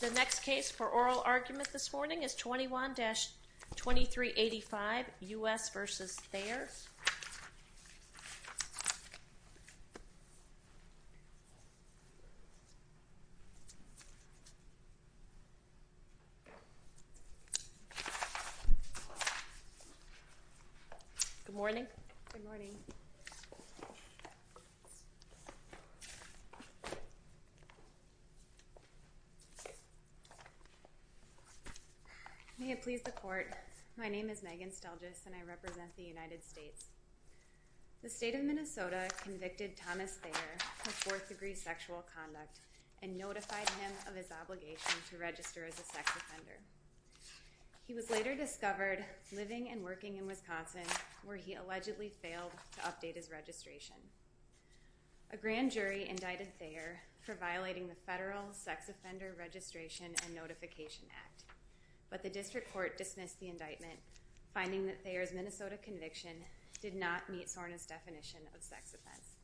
The next case for oral argument this morning is 21-2385, U.S. v. Thayer. I'm going to turn it over to Ms. Stelgis. The State of Minnesota convicted Thomas Thayer of fourth-degree sexual conduct and notified him of his obligation to register as a sex offender. He was later discovered living and working in Wisconsin, where he allegedly failed to update his registration. A grand jury indicted Thayer for violating the Federal Sex Offender Registration and Thayer's Minnesota conviction did not meet SORNA's definition of sex offense.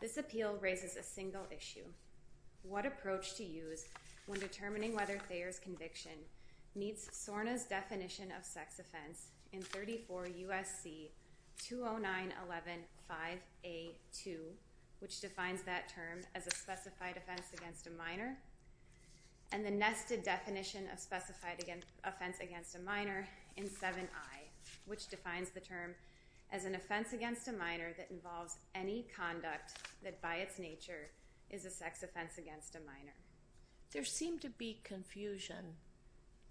This appeal raises a single issue. What approach to use when determining whether Thayer's conviction meets SORNA's definition of sex offense in 34 U.S.C. 20911-5A2, which defines that term as a specified offense against a minor, and the nested definition of specified offense against a minor in 7I, which defines the term as an offense against a minor that involves any conduct that by its nature is a sex offense against a minor. There seemed to be confusion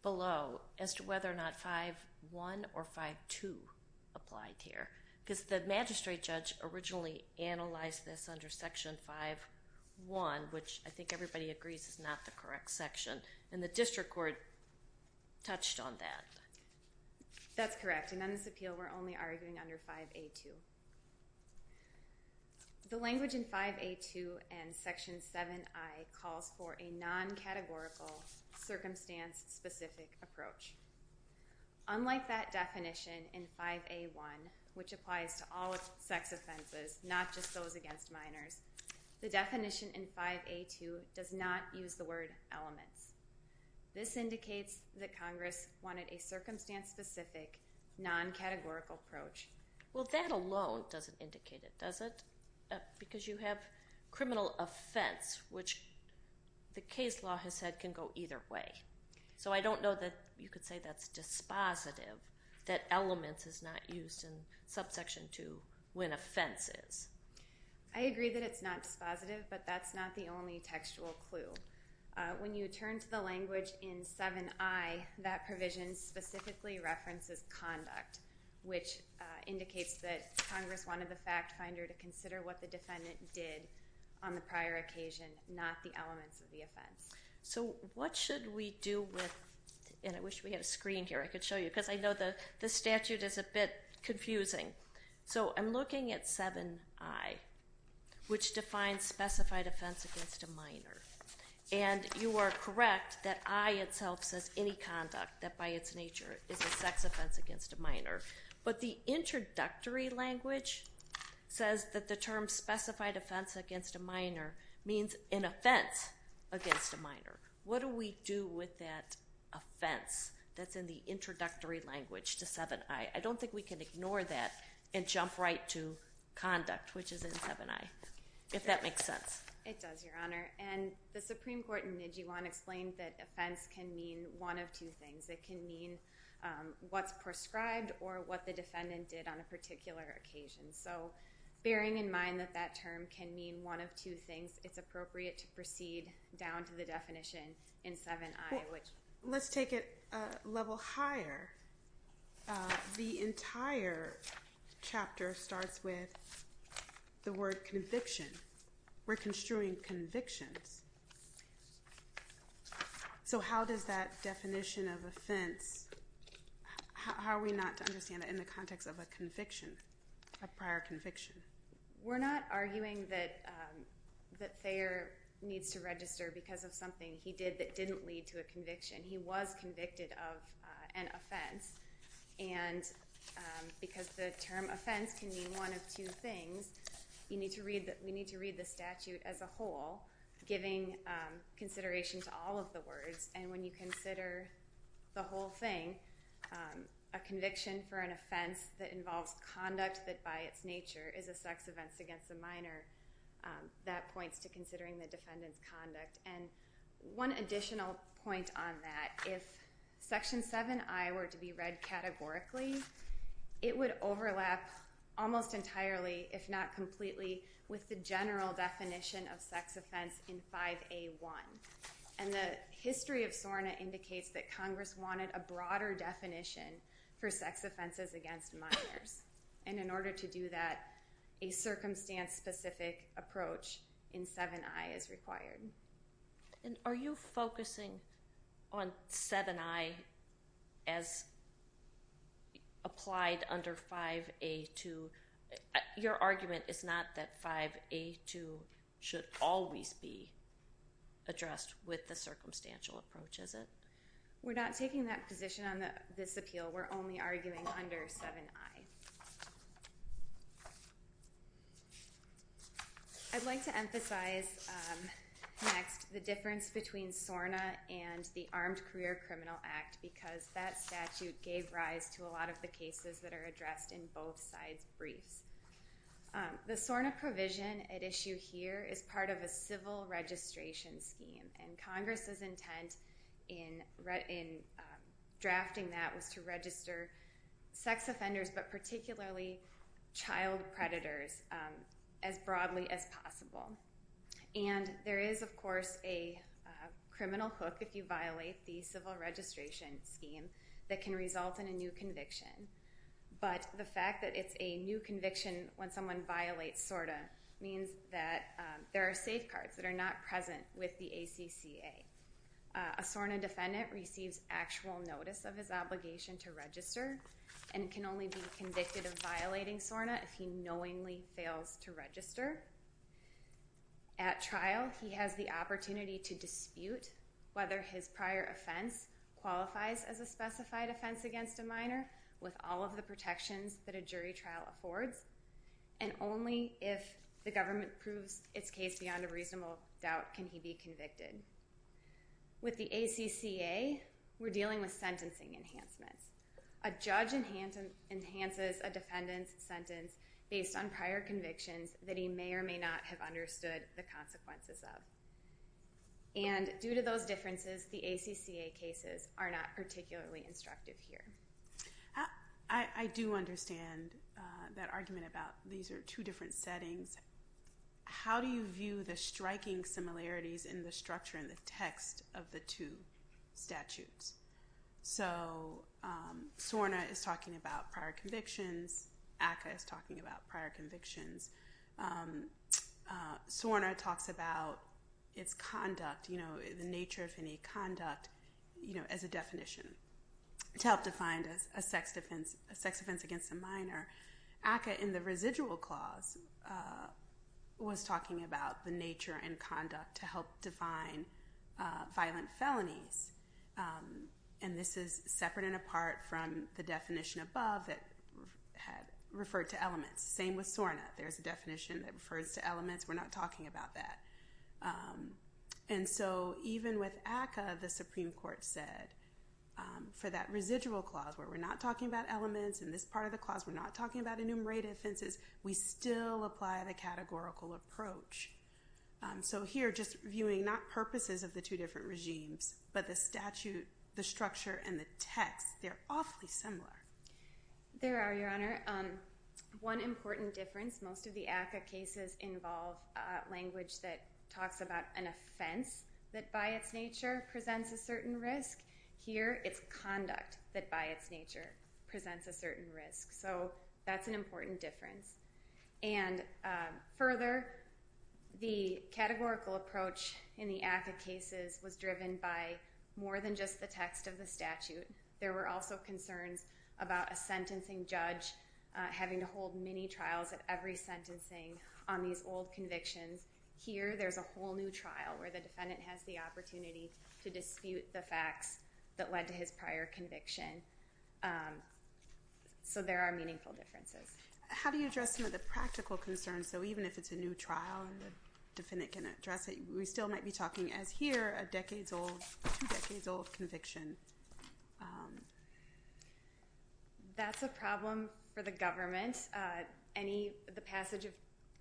below as to whether or not 5.1 or 5.2 applied here, because the everybody agrees is not the correct section, and the district court touched on that. That's correct, and on this appeal we're only arguing under 5A2. The language in 5A2 and Section 7I calls for a non-categorical, circumstance-specific approach. Unlike that definition in 5A1, which applies to all sex offenses, not just those against a minor, it does not use the word elements. This indicates that Congress wanted a circumstance-specific, non-categorical approach. Well, that alone doesn't indicate it, does it? Because you have criminal offense, which the case law has said can go either way. So I don't know that you could say that's dispositive, that elements is not used in Subsection 2 when offense is. I agree that it's not dispositive, but that's not the only textual clue. When you turn to the language in 7I, that provision specifically references conduct, which indicates that Congress wanted the fact finder to consider what the defendant did on the prior occasion, not the elements of the offense. So what should we do with, and I wish we had a screen here I could show you, because I know the statute is a bit confusing. So I'm looking at 7I, which defines specified offense against a minor. And you are correct that I itself says any conduct that by its nature is a sex offense against a minor. But the introductory language says that the term specified offense against a minor means an offense against a minor. What do we do with that offense that's in the introductory language to 7I? I don't think we can ignore that and jump right to conduct, which is in 7I, if that makes sense. It does, Your Honor. And the Supreme Court in Nijijuan explained that offense can mean one of two things. It can mean what's prescribed or what the defendant did on a particular occasion. So bearing in mind that that term can mean one of two things, it's appropriate to proceed down to the definition in 7I. So let's take it a level higher. The entire chapter starts with the word conviction. We're construing convictions. So how does that definition of offense, how are we not to understand it in the context of a conviction, a prior conviction? We're not arguing that Thayer needs to register because of something he did that didn't lead to a conviction. He was convicted of an offense. And because the term offense can mean one of two things, we need to read the statute as a whole, giving consideration to all of the words. And when you consider the whole thing, a conviction for an offense that involves conduct that by its nature is a sex offense against a minor, that points to considering the defendant's conduct. And one additional point on that, if Section 7I were to be read categorically, it would overlap almost entirely, if not completely, with the general definition of sex offense in 5A1. And the history of SORNA indicates that Congress wanted a broader definition for sex offenses against minors. And in order to do that, a circumstance-specific approach in 7I is required. And are you focusing on 7I as applied under 5A2? Your argument is not that 5A2 should always be addressed with the circumstantial approach, is it? We're not taking that position on this appeal. We're only arguing under 7I. I'd like to emphasize next the difference between SORNA and the Armed Career Criminal Act, because that statute gave rise to a lot of the cases that are addressed in both sides' briefs. The SORNA provision at issue here is part of a civil registration scheme. And Congress's intent in drafting that was to register sex offenders, but particularly child predators, as broadly as possible. And there is, of course, a criminal hook if you violate the civil registration scheme that can result in a new conviction. But the fact that it's a new conviction when someone violates SORNA means that there are safeguards that are not present with the ACCA. A SORNA defendant receives actual notice of his obligation to register and can only be convicted of violating SORNA if he knowingly fails to register. At trial, he has the opportunity to dispute whether his prior offense qualifies as a specified offense against a minor with all of the protections that a jury trial affords. And only if the government proves its case beyond a reasonable doubt can he be convicted. With the ACCA, we're dealing with sentencing enhancements. A judge enhances a defendant's sentence based on prior convictions that he may or may not have understood the consequences of. And due to those differences, the ACCA cases are not particularly instructive here. I do understand that argument about these are two different settings. How do you view the striking similarities in the structure and the text of the two statutes? So SORNA is talking about prior convictions. ACCA is talking about prior convictions. SORNA talks about its conduct, you know, the nature of any conduct, you know, as a definition to help define a sex offense against a minor. ACCA in the residual clause was talking about the nature and conduct to help define violent felonies. And this is separate and apart from the definition above that had referred to elements. Same with SORNA. There's a definition that refers to elements. We're not talking about that. And so even with ACCA, the Supreme Court said for that residual clause where we're not talking about elements in this part of the clause, we're not talking about enumerated offenses, we still apply the categorical approach. So here just viewing not purposes of the two different regimes, but the statute, the structure, and the text, they're awfully similar. There are, Your Honor. One important difference, most of the ACCA cases involve language that talks about an offense that by its nature presents a certain risk. Here it's conduct that by its nature presents a certain risk. So that's an important difference. And further, the categorical approach in the ACCA cases was driven by more than just the text of the statute. There were also concerns about a sentencing judge having to hold many trials at every sentencing on these old convictions. Here there's a whole new trial where the defendant has the opportunity to dispute the facts that led to his prior conviction. So there are meaningful differences. How do you address some of the practical concerns? So even if it's a new trial and the defendant can address it, we still might be talking as here a decades-old, two decades-old conviction. That's a problem for the government. The passage of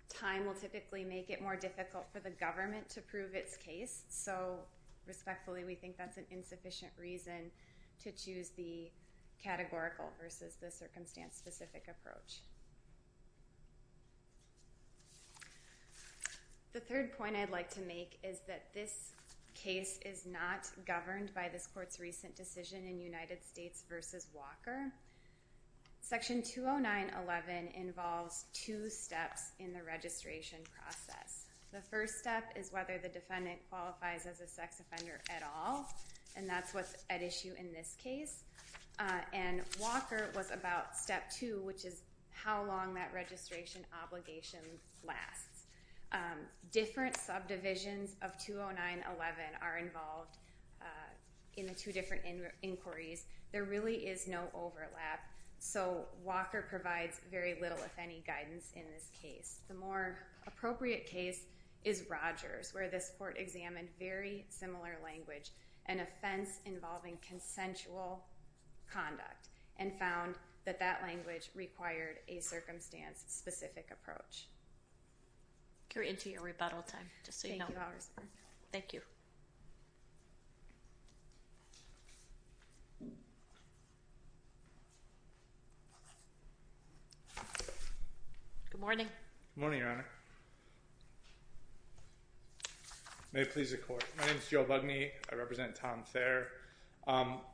time will typically make it more difficult for the government to prove its case. So respectfully, we think that's an insufficient reason to choose the categorical versus the circumstance-specific approach. The third point I'd like to make is that this case is not governed by this court's recent decision in United States v. Walker. Section 209.11 involves two steps in the registration process. The first step is whether the defendant qualifies as a sex offender at all, and that's what's at issue in this case. And Walker was about step two, which is how long that registration obligation lasts. Different subdivisions of 209.11 are involved in the two different inquiries. There really is no overlap, so Walker provides very little, if any, guidance in this case. The more appropriate case is Rogers, where this court examined very similar language, an offense involving consensual conduct, and found that that language required a circumstance-specific approach. You're into your rebuttal time, just so you know. Thank you, Your Honor. Thank you. Good morning. Good morning, Your Honor. May it please the Court. My name is Joe Bugney. I represent Tom Thayer.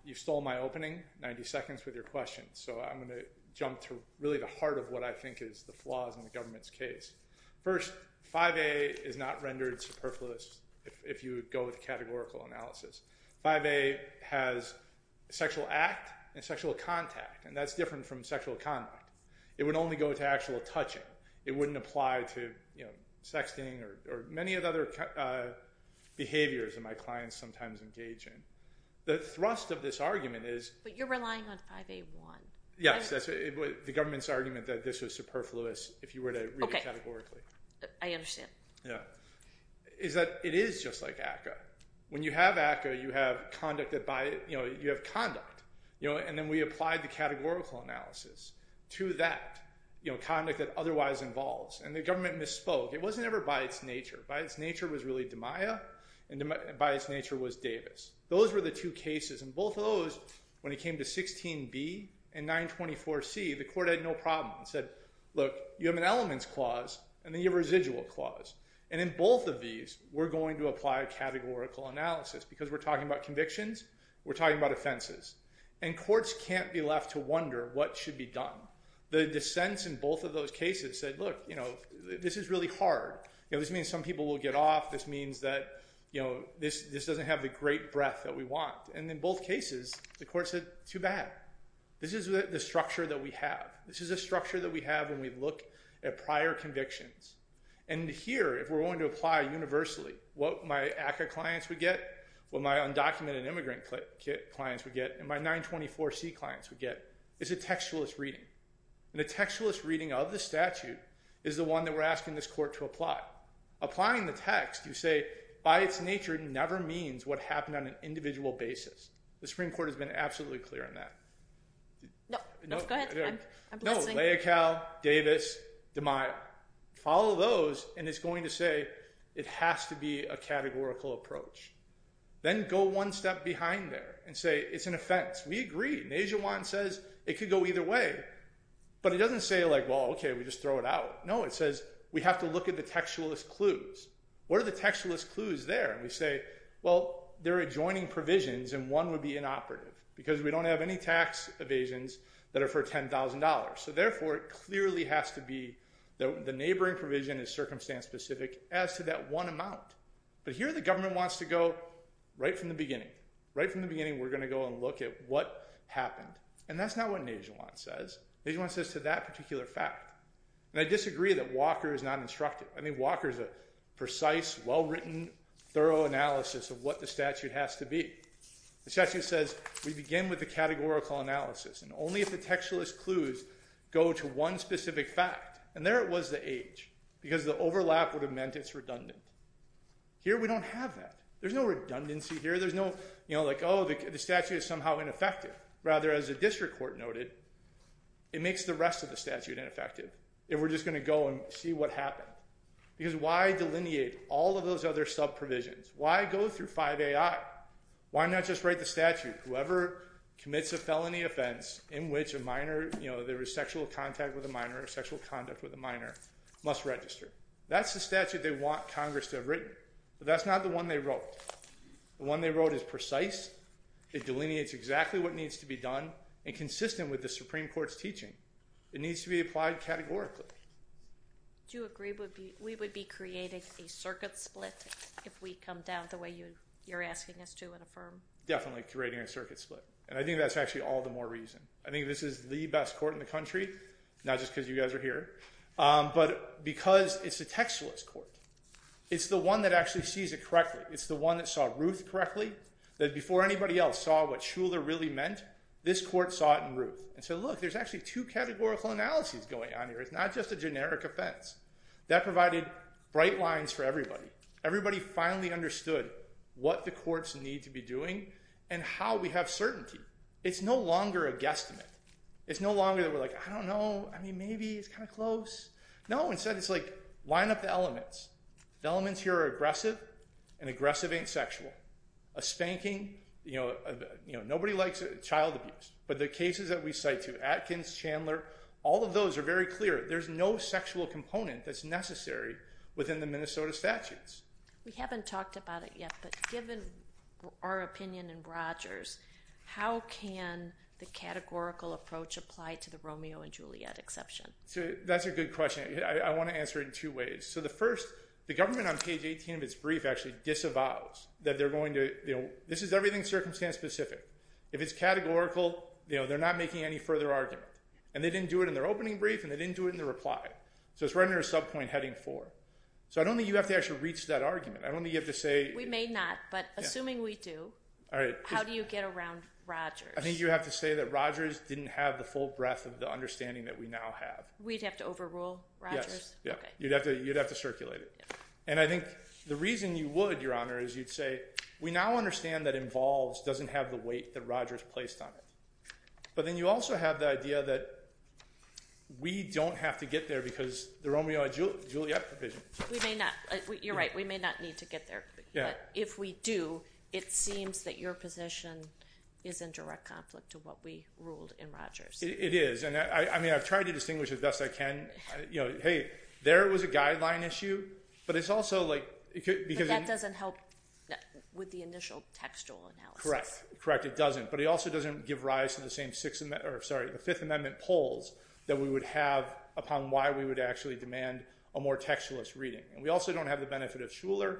You stole my opening, 90 seconds, with your question, so I'm going to jump to really the heart of what I think is the flaws in the government's case. First, 5A is not rendered superfluous, if you would go with categorical analysis. 5A has sexual act and sexual contact, and that's different from sexual conduct. It would only go to actual touching. It wouldn't apply to sexting or many of the other behaviors that my clients sometimes engage in. The thrust of this argument is— But you're relying on 5A-1. Yes, the government's argument that this was superfluous, if you were to read it categorically. I understand. It is just like ACCA. When you have ACCA, you have conduct, and then we applied the categorical analysis to that, you know, conduct that otherwise involves. And the government misspoke. It wasn't ever by its nature. By its nature was really DiMaia, and by its nature was Davis. Those were the two cases, and both of those, when it came to 16B and 924C, the Court had no problem. It said, look, you have an elements clause, and then you have a residual clause. And in both of these, we're going to apply categorical analysis, because we're talking about convictions, we're talking about offenses. And courts can't be left to wonder what should be done. The dissents in both of those cases said, look, you know, this is really hard. You know, this means some people will get off. This means that, you know, this doesn't have the great breadth that we want. And in both cases, the Court said, too bad. This is the structure that we have. This is the structure that we have when we look at prior convictions. And here, if we're going to apply universally what my ACCA clients would get, what my undocumented immigrant clients would get, and my 924C clients would get, is a textualist reading. And a textualist reading of the statute is the one that we're asking this Court to apply. Applying the text, you say, by its nature, never means what happened on an individual basis. The Supreme Court has been absolutely clear on that. No, go ahead. I'm listening. No, Leocal, Davis, DeMille. Follow those, and it's going to say it has to be a categorical approach. Then go one step behind there and say it's an offense. We agree. An Asian one says it could go either way. But it doesn't say, like, well, okay, we just throw it out. No, it says we have to look at the textualist clues. What are the textualist clues there? And we say, well, there are adjoining provisions, and one would be inoperative because we don't have any tax evasions that are for $10,000. So, therefore, it clearly has to be the neighboring provision is circumstance-specific as to that one amount. But here the government wants to go right from the beginning. Right from the beginning we're going to go and look at what happened. And that's not what an Asian one says. An Asian one says to that particular fact. And I disagree that Walker is not instructive. I mean, Walker is a precise, well-written, thorough analysis of what the statute has to be. The statute says we begin with the categorical analysis, and only if the textualist clues go to one specific fact. And there it was, the age, because the overlap would have meant it's redundant. Here we don't have that. There's no redundancy here. There's no, you know, like, oh, the statute is somehow ineffective. Rather, as a district court noted, it makes the rest of the statute ineffective if we're just going to go and see what happened. Because why delineate all of those other sub-provisions? Why go through 5AI? Why not just write the statute? Whoever commits a felony offense in which a minor, you know, there is sexual contact with a minor or sexual conduct with a minor must register. That's the statute they want Congress to have written. But that's not the one they wrote. The one they wrote is precise. It delineates exactly what needs to be done and consistent with the Supreme Court's teaching. It needs to be applied categorically. Do you agree we would be creating a circuit split if we come down the way you're asking us to and affirm? Definitely creating a circuit split, and I think that's actually all the more reason. I think this is the best court in the country, not just because you guys are here, but because it's a textualist court. It's the one that actually sees it correctly. It's the one that saw Ruth correctly, that before anybody else saw what Shuler really meant, this court saw it in Ruth and said, look, there's actually two categorical analyses going on here. It's not just a generic offense. That provided bright lines for everybody. Everybody finally understood what the courts need to be doing and how we have certainty. It's no longer a guesstimate. It's no longer that we're like, I don't know, I mean, maybe, it's kind of close. No, instead it's like line up the elements. The elements here are aggressive, and aggressive ain't sexual. A spanking, you know, nobody likes child abuse. But the cases that we cite too, Atkins, Chandler, all of those are very clear. There's no sexual component that's necessary within the Minnesota statutes. We haven't talked about it yet, but given our opinion in Rogers, how can the categorical approach apply to the Romeo and Juliet exception? That's a good question. I want to answer it in two ways. So the first, the government on page 18 of its brief actually disavows that they're going to, you know, this is everything circumstance specific. If it's categorical, you know, they're not making any further argument. And they didn't do it in their opening brief, and they didn't do it in their reply. So it's right under subpoint heading four. So I don't think you have to actually reach that argument. I don't think you have to say. We may not, but assuming we do, how do you get around Rogers? I think you have to say that Rogers didn't have the full breadth of the understanding that we now have. We'd have to overrule Rogers? Yes. You'd have to circulate it. And I think the reason you would, Your Honor, is you'd say we now understand that involves doesn't have the weight that Rogers placed on it. But then you also have the idea that we don't have to get there because the Romeo and Juliet provision. We may not. You're right. We may not need to get there. But if we do, it seems that your position is in direct conflict to what we ruled in Rogers. It is. I mean, I've tried to distinguish as best I can. You know, hey, there was a guideline issue. But it's also like because it doesn't help with the initial textual analysis. Correct. Correct. It doesn't. But it also doesn't give rise to the same six or sorry, the Fifth Amendment polls that we would have upon why we would actually demand a more textualist reading. And we also don't have the benefit of Shuler.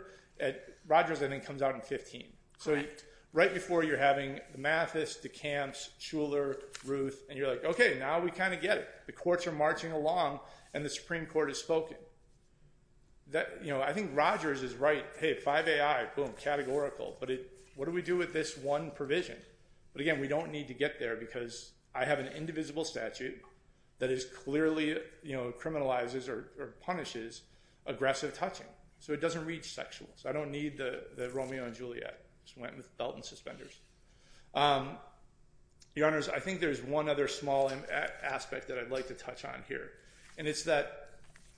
Rogers then comes out in 15. Correct. Right before you're having Mathis, DeCamps, Shuler, Ruth. And you're like, OK, now we kind of get it. The courts are marching along and the Supreme Court has spoken. You know, I think Rogers is right. Hey, five A.I., boom, categorical. But what do we do with this one provision? But again, we don't need to get there because I have an indivisible statute that is clearly, you know, criminalizes or punishes aggressive touching. So it doesn't reach sexuals. I don't need the Romeo and Juliet. Just went with belt and suspenders. Your Honors, I think there's one other small aspect that I'd like to touch on here. And it's that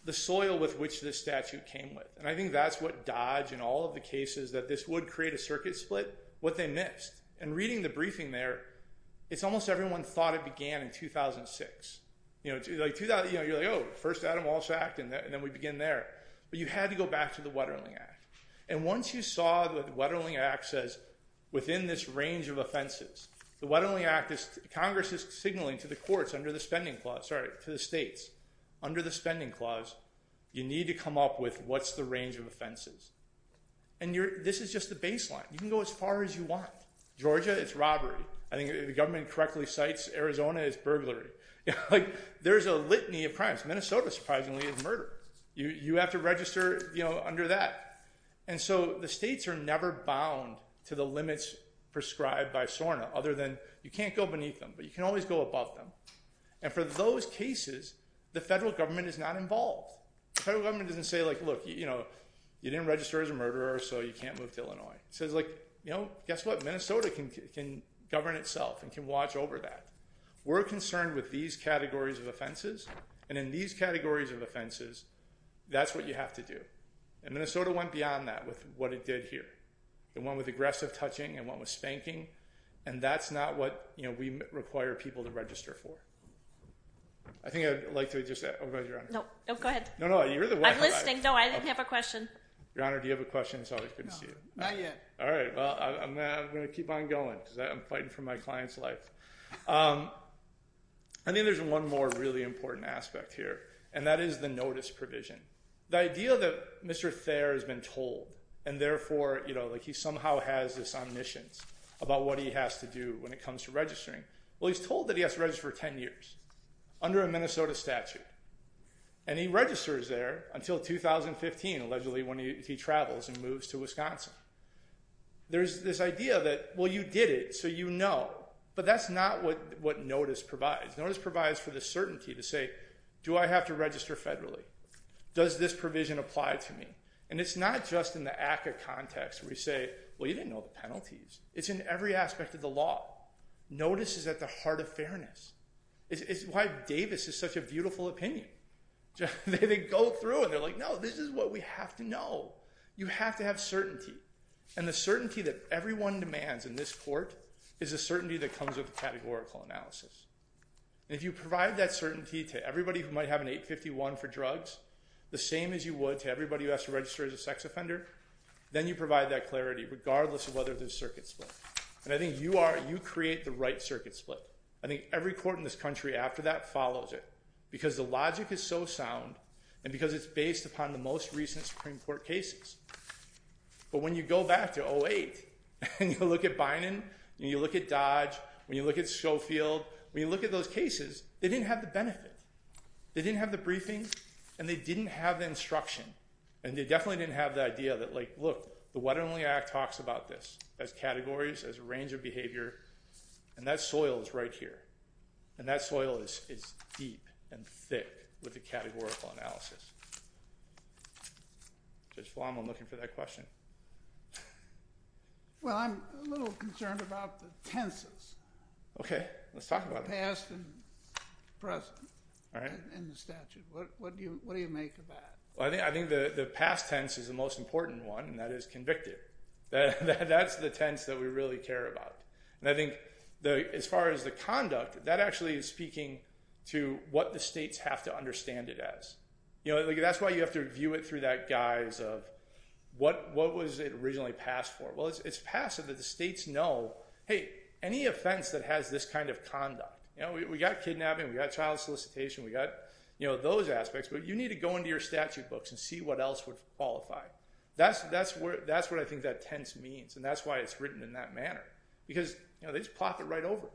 the soil with which this statute came with. And I think that's what Dodge and all of the cases that this would create a circuit split, what they missed. And reading the briefing there, it's almost everyone thought it began in 2006. You know, you're like, oh, first Adam Walsh Act and then we begin there. But you had to go back to the Wetterling Act. And once you saw the Wetterling Act says within this range of offenses, the Wetterling Act is Congress is signaling to the courts under the spending clause, sorry, to the states. Under the spending clause, you need to come up with what's the range of offenses. And this is just the baseline. You can go as far as you want. Georgia, it's robbery. I think the government correctly cites Arizona as burglary. Like, there's a litany of crimes. Minnesota, surprisingly, is murder. You have to register, you know, under that. And so the states are never bound to the limits prescribed by SORNA other than you can't go beneath them, but you can always go above them. And for those cases, the federal government is not involved. The federal government doesn't say, like, look, you know, you didn't register as a murderer, so you can't move to Illinois. It says, like, you know, guess what? Minnesota can govern itself and can watch over that. We're concerned with these categories of offenses. And in these categories of offenses, that's what you have to do. And Minnesota went beyond that with what it did here. It went with aggressive touching. It went with spanking. And that's not what, you know, we require people to register for. I think I'd like to just say, oh, go ahead, Your Honor. No, go ahead. No, no, you're the one. I'm listening. No, I didn't have a question. Your Honor, do you have a question? It's always good to see you. No, not yet. All right, well, I'm going to keep on going because I'm fighting for my client's life. I think there's one more really important aspect here, and that is the notice provision. The idea that Mr. Thayer has been told, and therefore, you know, like he somehow has this omniscience about what he has to do when it comes to registering. Well, he's told that he has to register for 10 years under a Minnesota statute. And he registers there until 2015, allegedly, when he travels and moves to Wisconsin. There's this idea that, well, you did it, so you know. But that's not what notice provides. Notice provides for the certainty to say, do I have to register federally? Does this provision apply to me? And it's not just in the ACCA context where you say, well, you didn't know the penalties. It's in every aspect of the law. Notice is at the heart of fairness. It's why Davis is such a beautiful opinion. They go through, and they're like, no, this is what we have to know. You have to have certainty. And the certainty that everyone demands in this court is a certainty that comes with a categorical analysis. And if you provide that certainty to everybody who might have an 851 for drugs, the same as you would to everybody who has to register as a sex offender, then you provide that clarity regardless of whether there's circuit split. And I think you are, you create the right circuit split. I think every court in this country after that follows it because the logic is so sound and because it's based upon the most recent Supreme Court cases. But when you go back to 08, and you look at Bynum, and you look at Dodge, when you look at Schofield, when you look at those cases, they didn't have the benefit. They didn't have the briefing, and they didn't have the instruction. And they definitely didn't have the idea that, like, look, the What Only Act talks about this as categories, as a range of behavior, and that soil is right here. And that soil is deep and thick with the categorical analysis. Judge Flomo, I'm looking for that question. Well, I'm a little concerned about the tenses. Okay. Let's talk about it. Past and present. All right. In the statute. What do you make of that? Well, I think the past tense is the most important one, and that is convicted. That's the tense that we really care about. And I think as far as the conduct, that actually is speaking to what the states have to understand it as. You know, that's why you have to view it through that guise of what was it originally passed for. Well, it's passive that the states know, hey, any offense that has this kind of conduct. You know, we got kidnapping, we got child solicitation, we got, you know, those aspects. But you need to go into your statute books and see what else would qualify. That's what I think that tense means, and that's why it's written in that manner. Because, you know, they just plop it right over.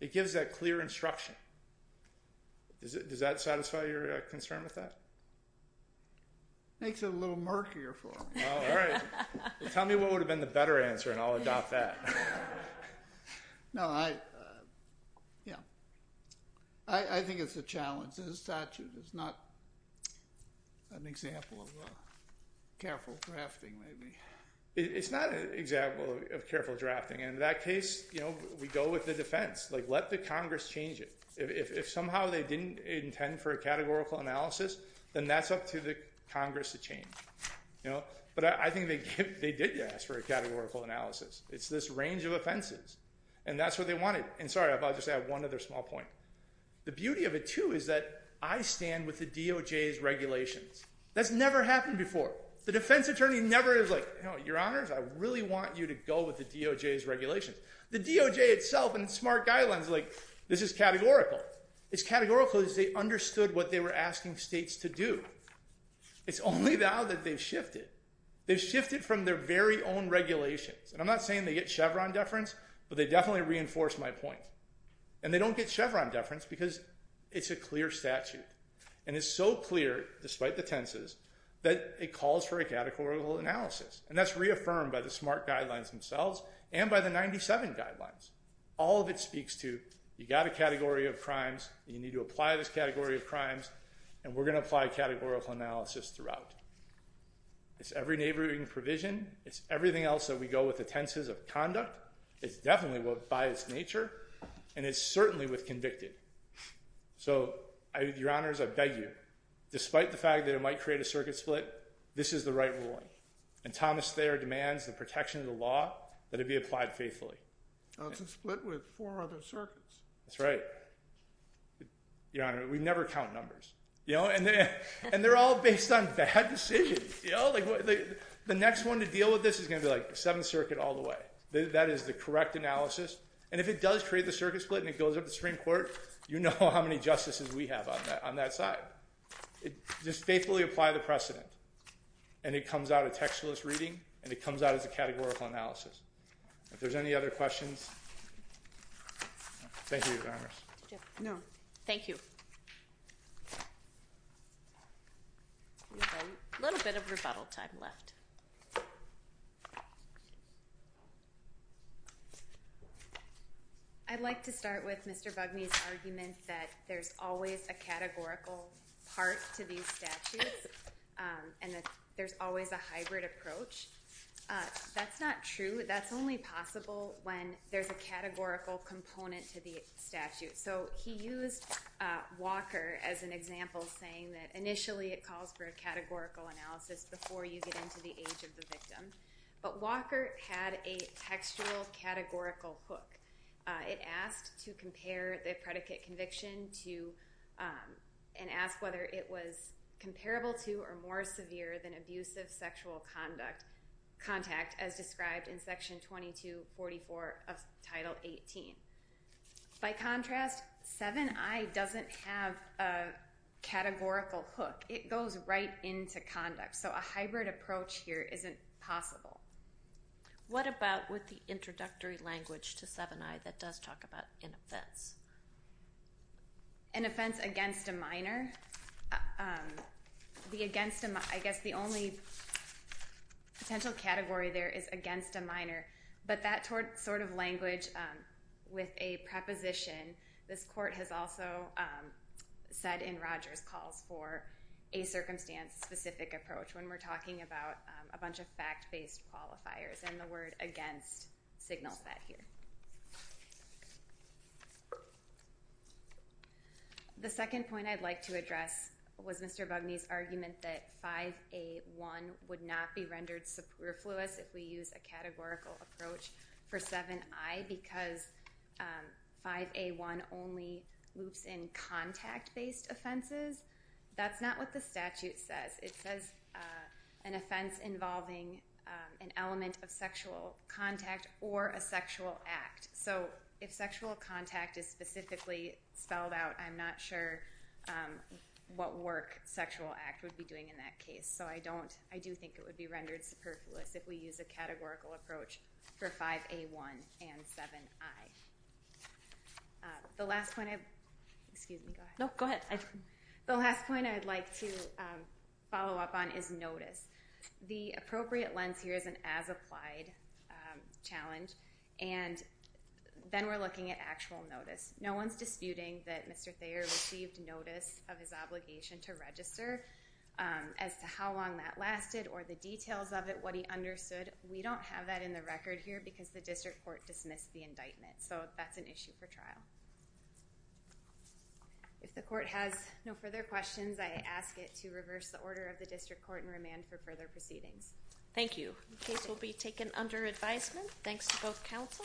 It gives that clear instruction. Does that satisfy your concern with that? Makes it a little murkier for me. All right. Tell me what would have been the better answer, and I'll adopt that. No, I, you know, I think it's a challenge. The statute is not an example of careful drafting, maybe. It's not an example of careful drafting. And in that case, you know, we go with the defense. Like, let the Congress change it. If somehow they didn't intend for a categorical analysis, then that's up to the Congress to change. You know, but I think they did ask for a categorical analysis. It's this range of offenses, and that's what they wanted. And sorry, I'll just add one other small point. The beauty of it, too, is that I stand with the DOJ's regulations. That's never happened before. The defense attorney never is like, you know, Your Honors, I really want you to go with the DOJ's regulations. The DOJ itself in smart guidelines is like, this is categorical. It's categorical because they understood what they were asking states to do. It's only now that they've shifted. They've shifted from their very own regulations. And I'm not saying they get Chevron deference, but they definitely reinforce my point. And they don't get Chevron deference because it's a clear statute. And it's so clear, despite the tenses, that it calls for a categorical analysis. And that's reaffirmed by the smart guidelines themselves and by the 97 guidelines. All of it speaks to you've got a category of crimes, you need to apply this category of crimes, and we're going to apply categorical analysis throughout. It's every neighboring provision. It's everything else that we go with the tenses of conduct. It's definitely by its nature, and it's certainly with convicted. So, Your Honors, I beg you. Despite the fact that it might create a circuit split, this is the right ruling. And Thomas Thayer demands the protection of the law that it be applied faithfully. It's a split with four other circuits. That's right. Your Honor, we never count numbers. And they're all based on bad decisions. The next one to deal with this is going to be like the Seventh Circuit all the way. That is the correct analysis. And if it does create the circuit split and it goes up to Supreme Court, you know how many justices we have on that side. Just faithfully apply the precedent. And it comes out a textless reading, and it comes out as a categorical analysis. If there's any other questions, thank you, Your Honors. No. Thank you. We have a little bit of rebuttal time left. I'd like to start with Mr. Bugme's argument that there's always a categorical part to these statutes and that there's always a hybrid approach. That's not true. That's only possible when there's a categorical component to the statute. So he used Walker as an example, saying that initially it calls for a categorical analysis before you get into the age of the victim. But Walker had a textual categorical hook. It asked to compare the predicate conviction to and asked whether it was comparable to or more severe than abusive sexual contact, as described in Section 2244 of Title 18. By contrast, 7i doesn't have a categorical hook. It goes right into conduct. So a hybrid approach here isn't possible. What about with the introductory language to 7i that does talk about an offense? An offense against a minor. But that sort of language with a preposition, this court has also said in Rogers calls for a circumstance-specific approach when we're talking about a bunch of fact-based qualifiers, and the word against signals that here. The second point I'd like to address was Mr. Bugney's argument that 5A1 would not be rendered superfluous if we use a categorical approach for 7i because 5A1 only loops in contact-based offenses. That's not what the statute says. It says an offense involving an element of sexual contact or a sexual act. So if sexual contact is specifically spelled out, I'm not sure what work sexual act would be doing in that case. So I do think it would be rendered superfluous if we use a categorical approach for 5A1 and 7i. The last point I'd like to follow up on is notice. The appropriate lens here is an as-applied challenge, and then we're looking at actual notice. No one's disputing that Mr. Thayer received notice of his obligation to register as to how long that lasted or the details of it, what he understood. We don't have that in the record here because the district court dismissed the indictment. So that's an issue for trial. If the court has no further questions, I ask it to reverse the order of the district court and remand for further proceedings. Thank you. The case will be taken under advisement. Thanks to both counsel. Thank you.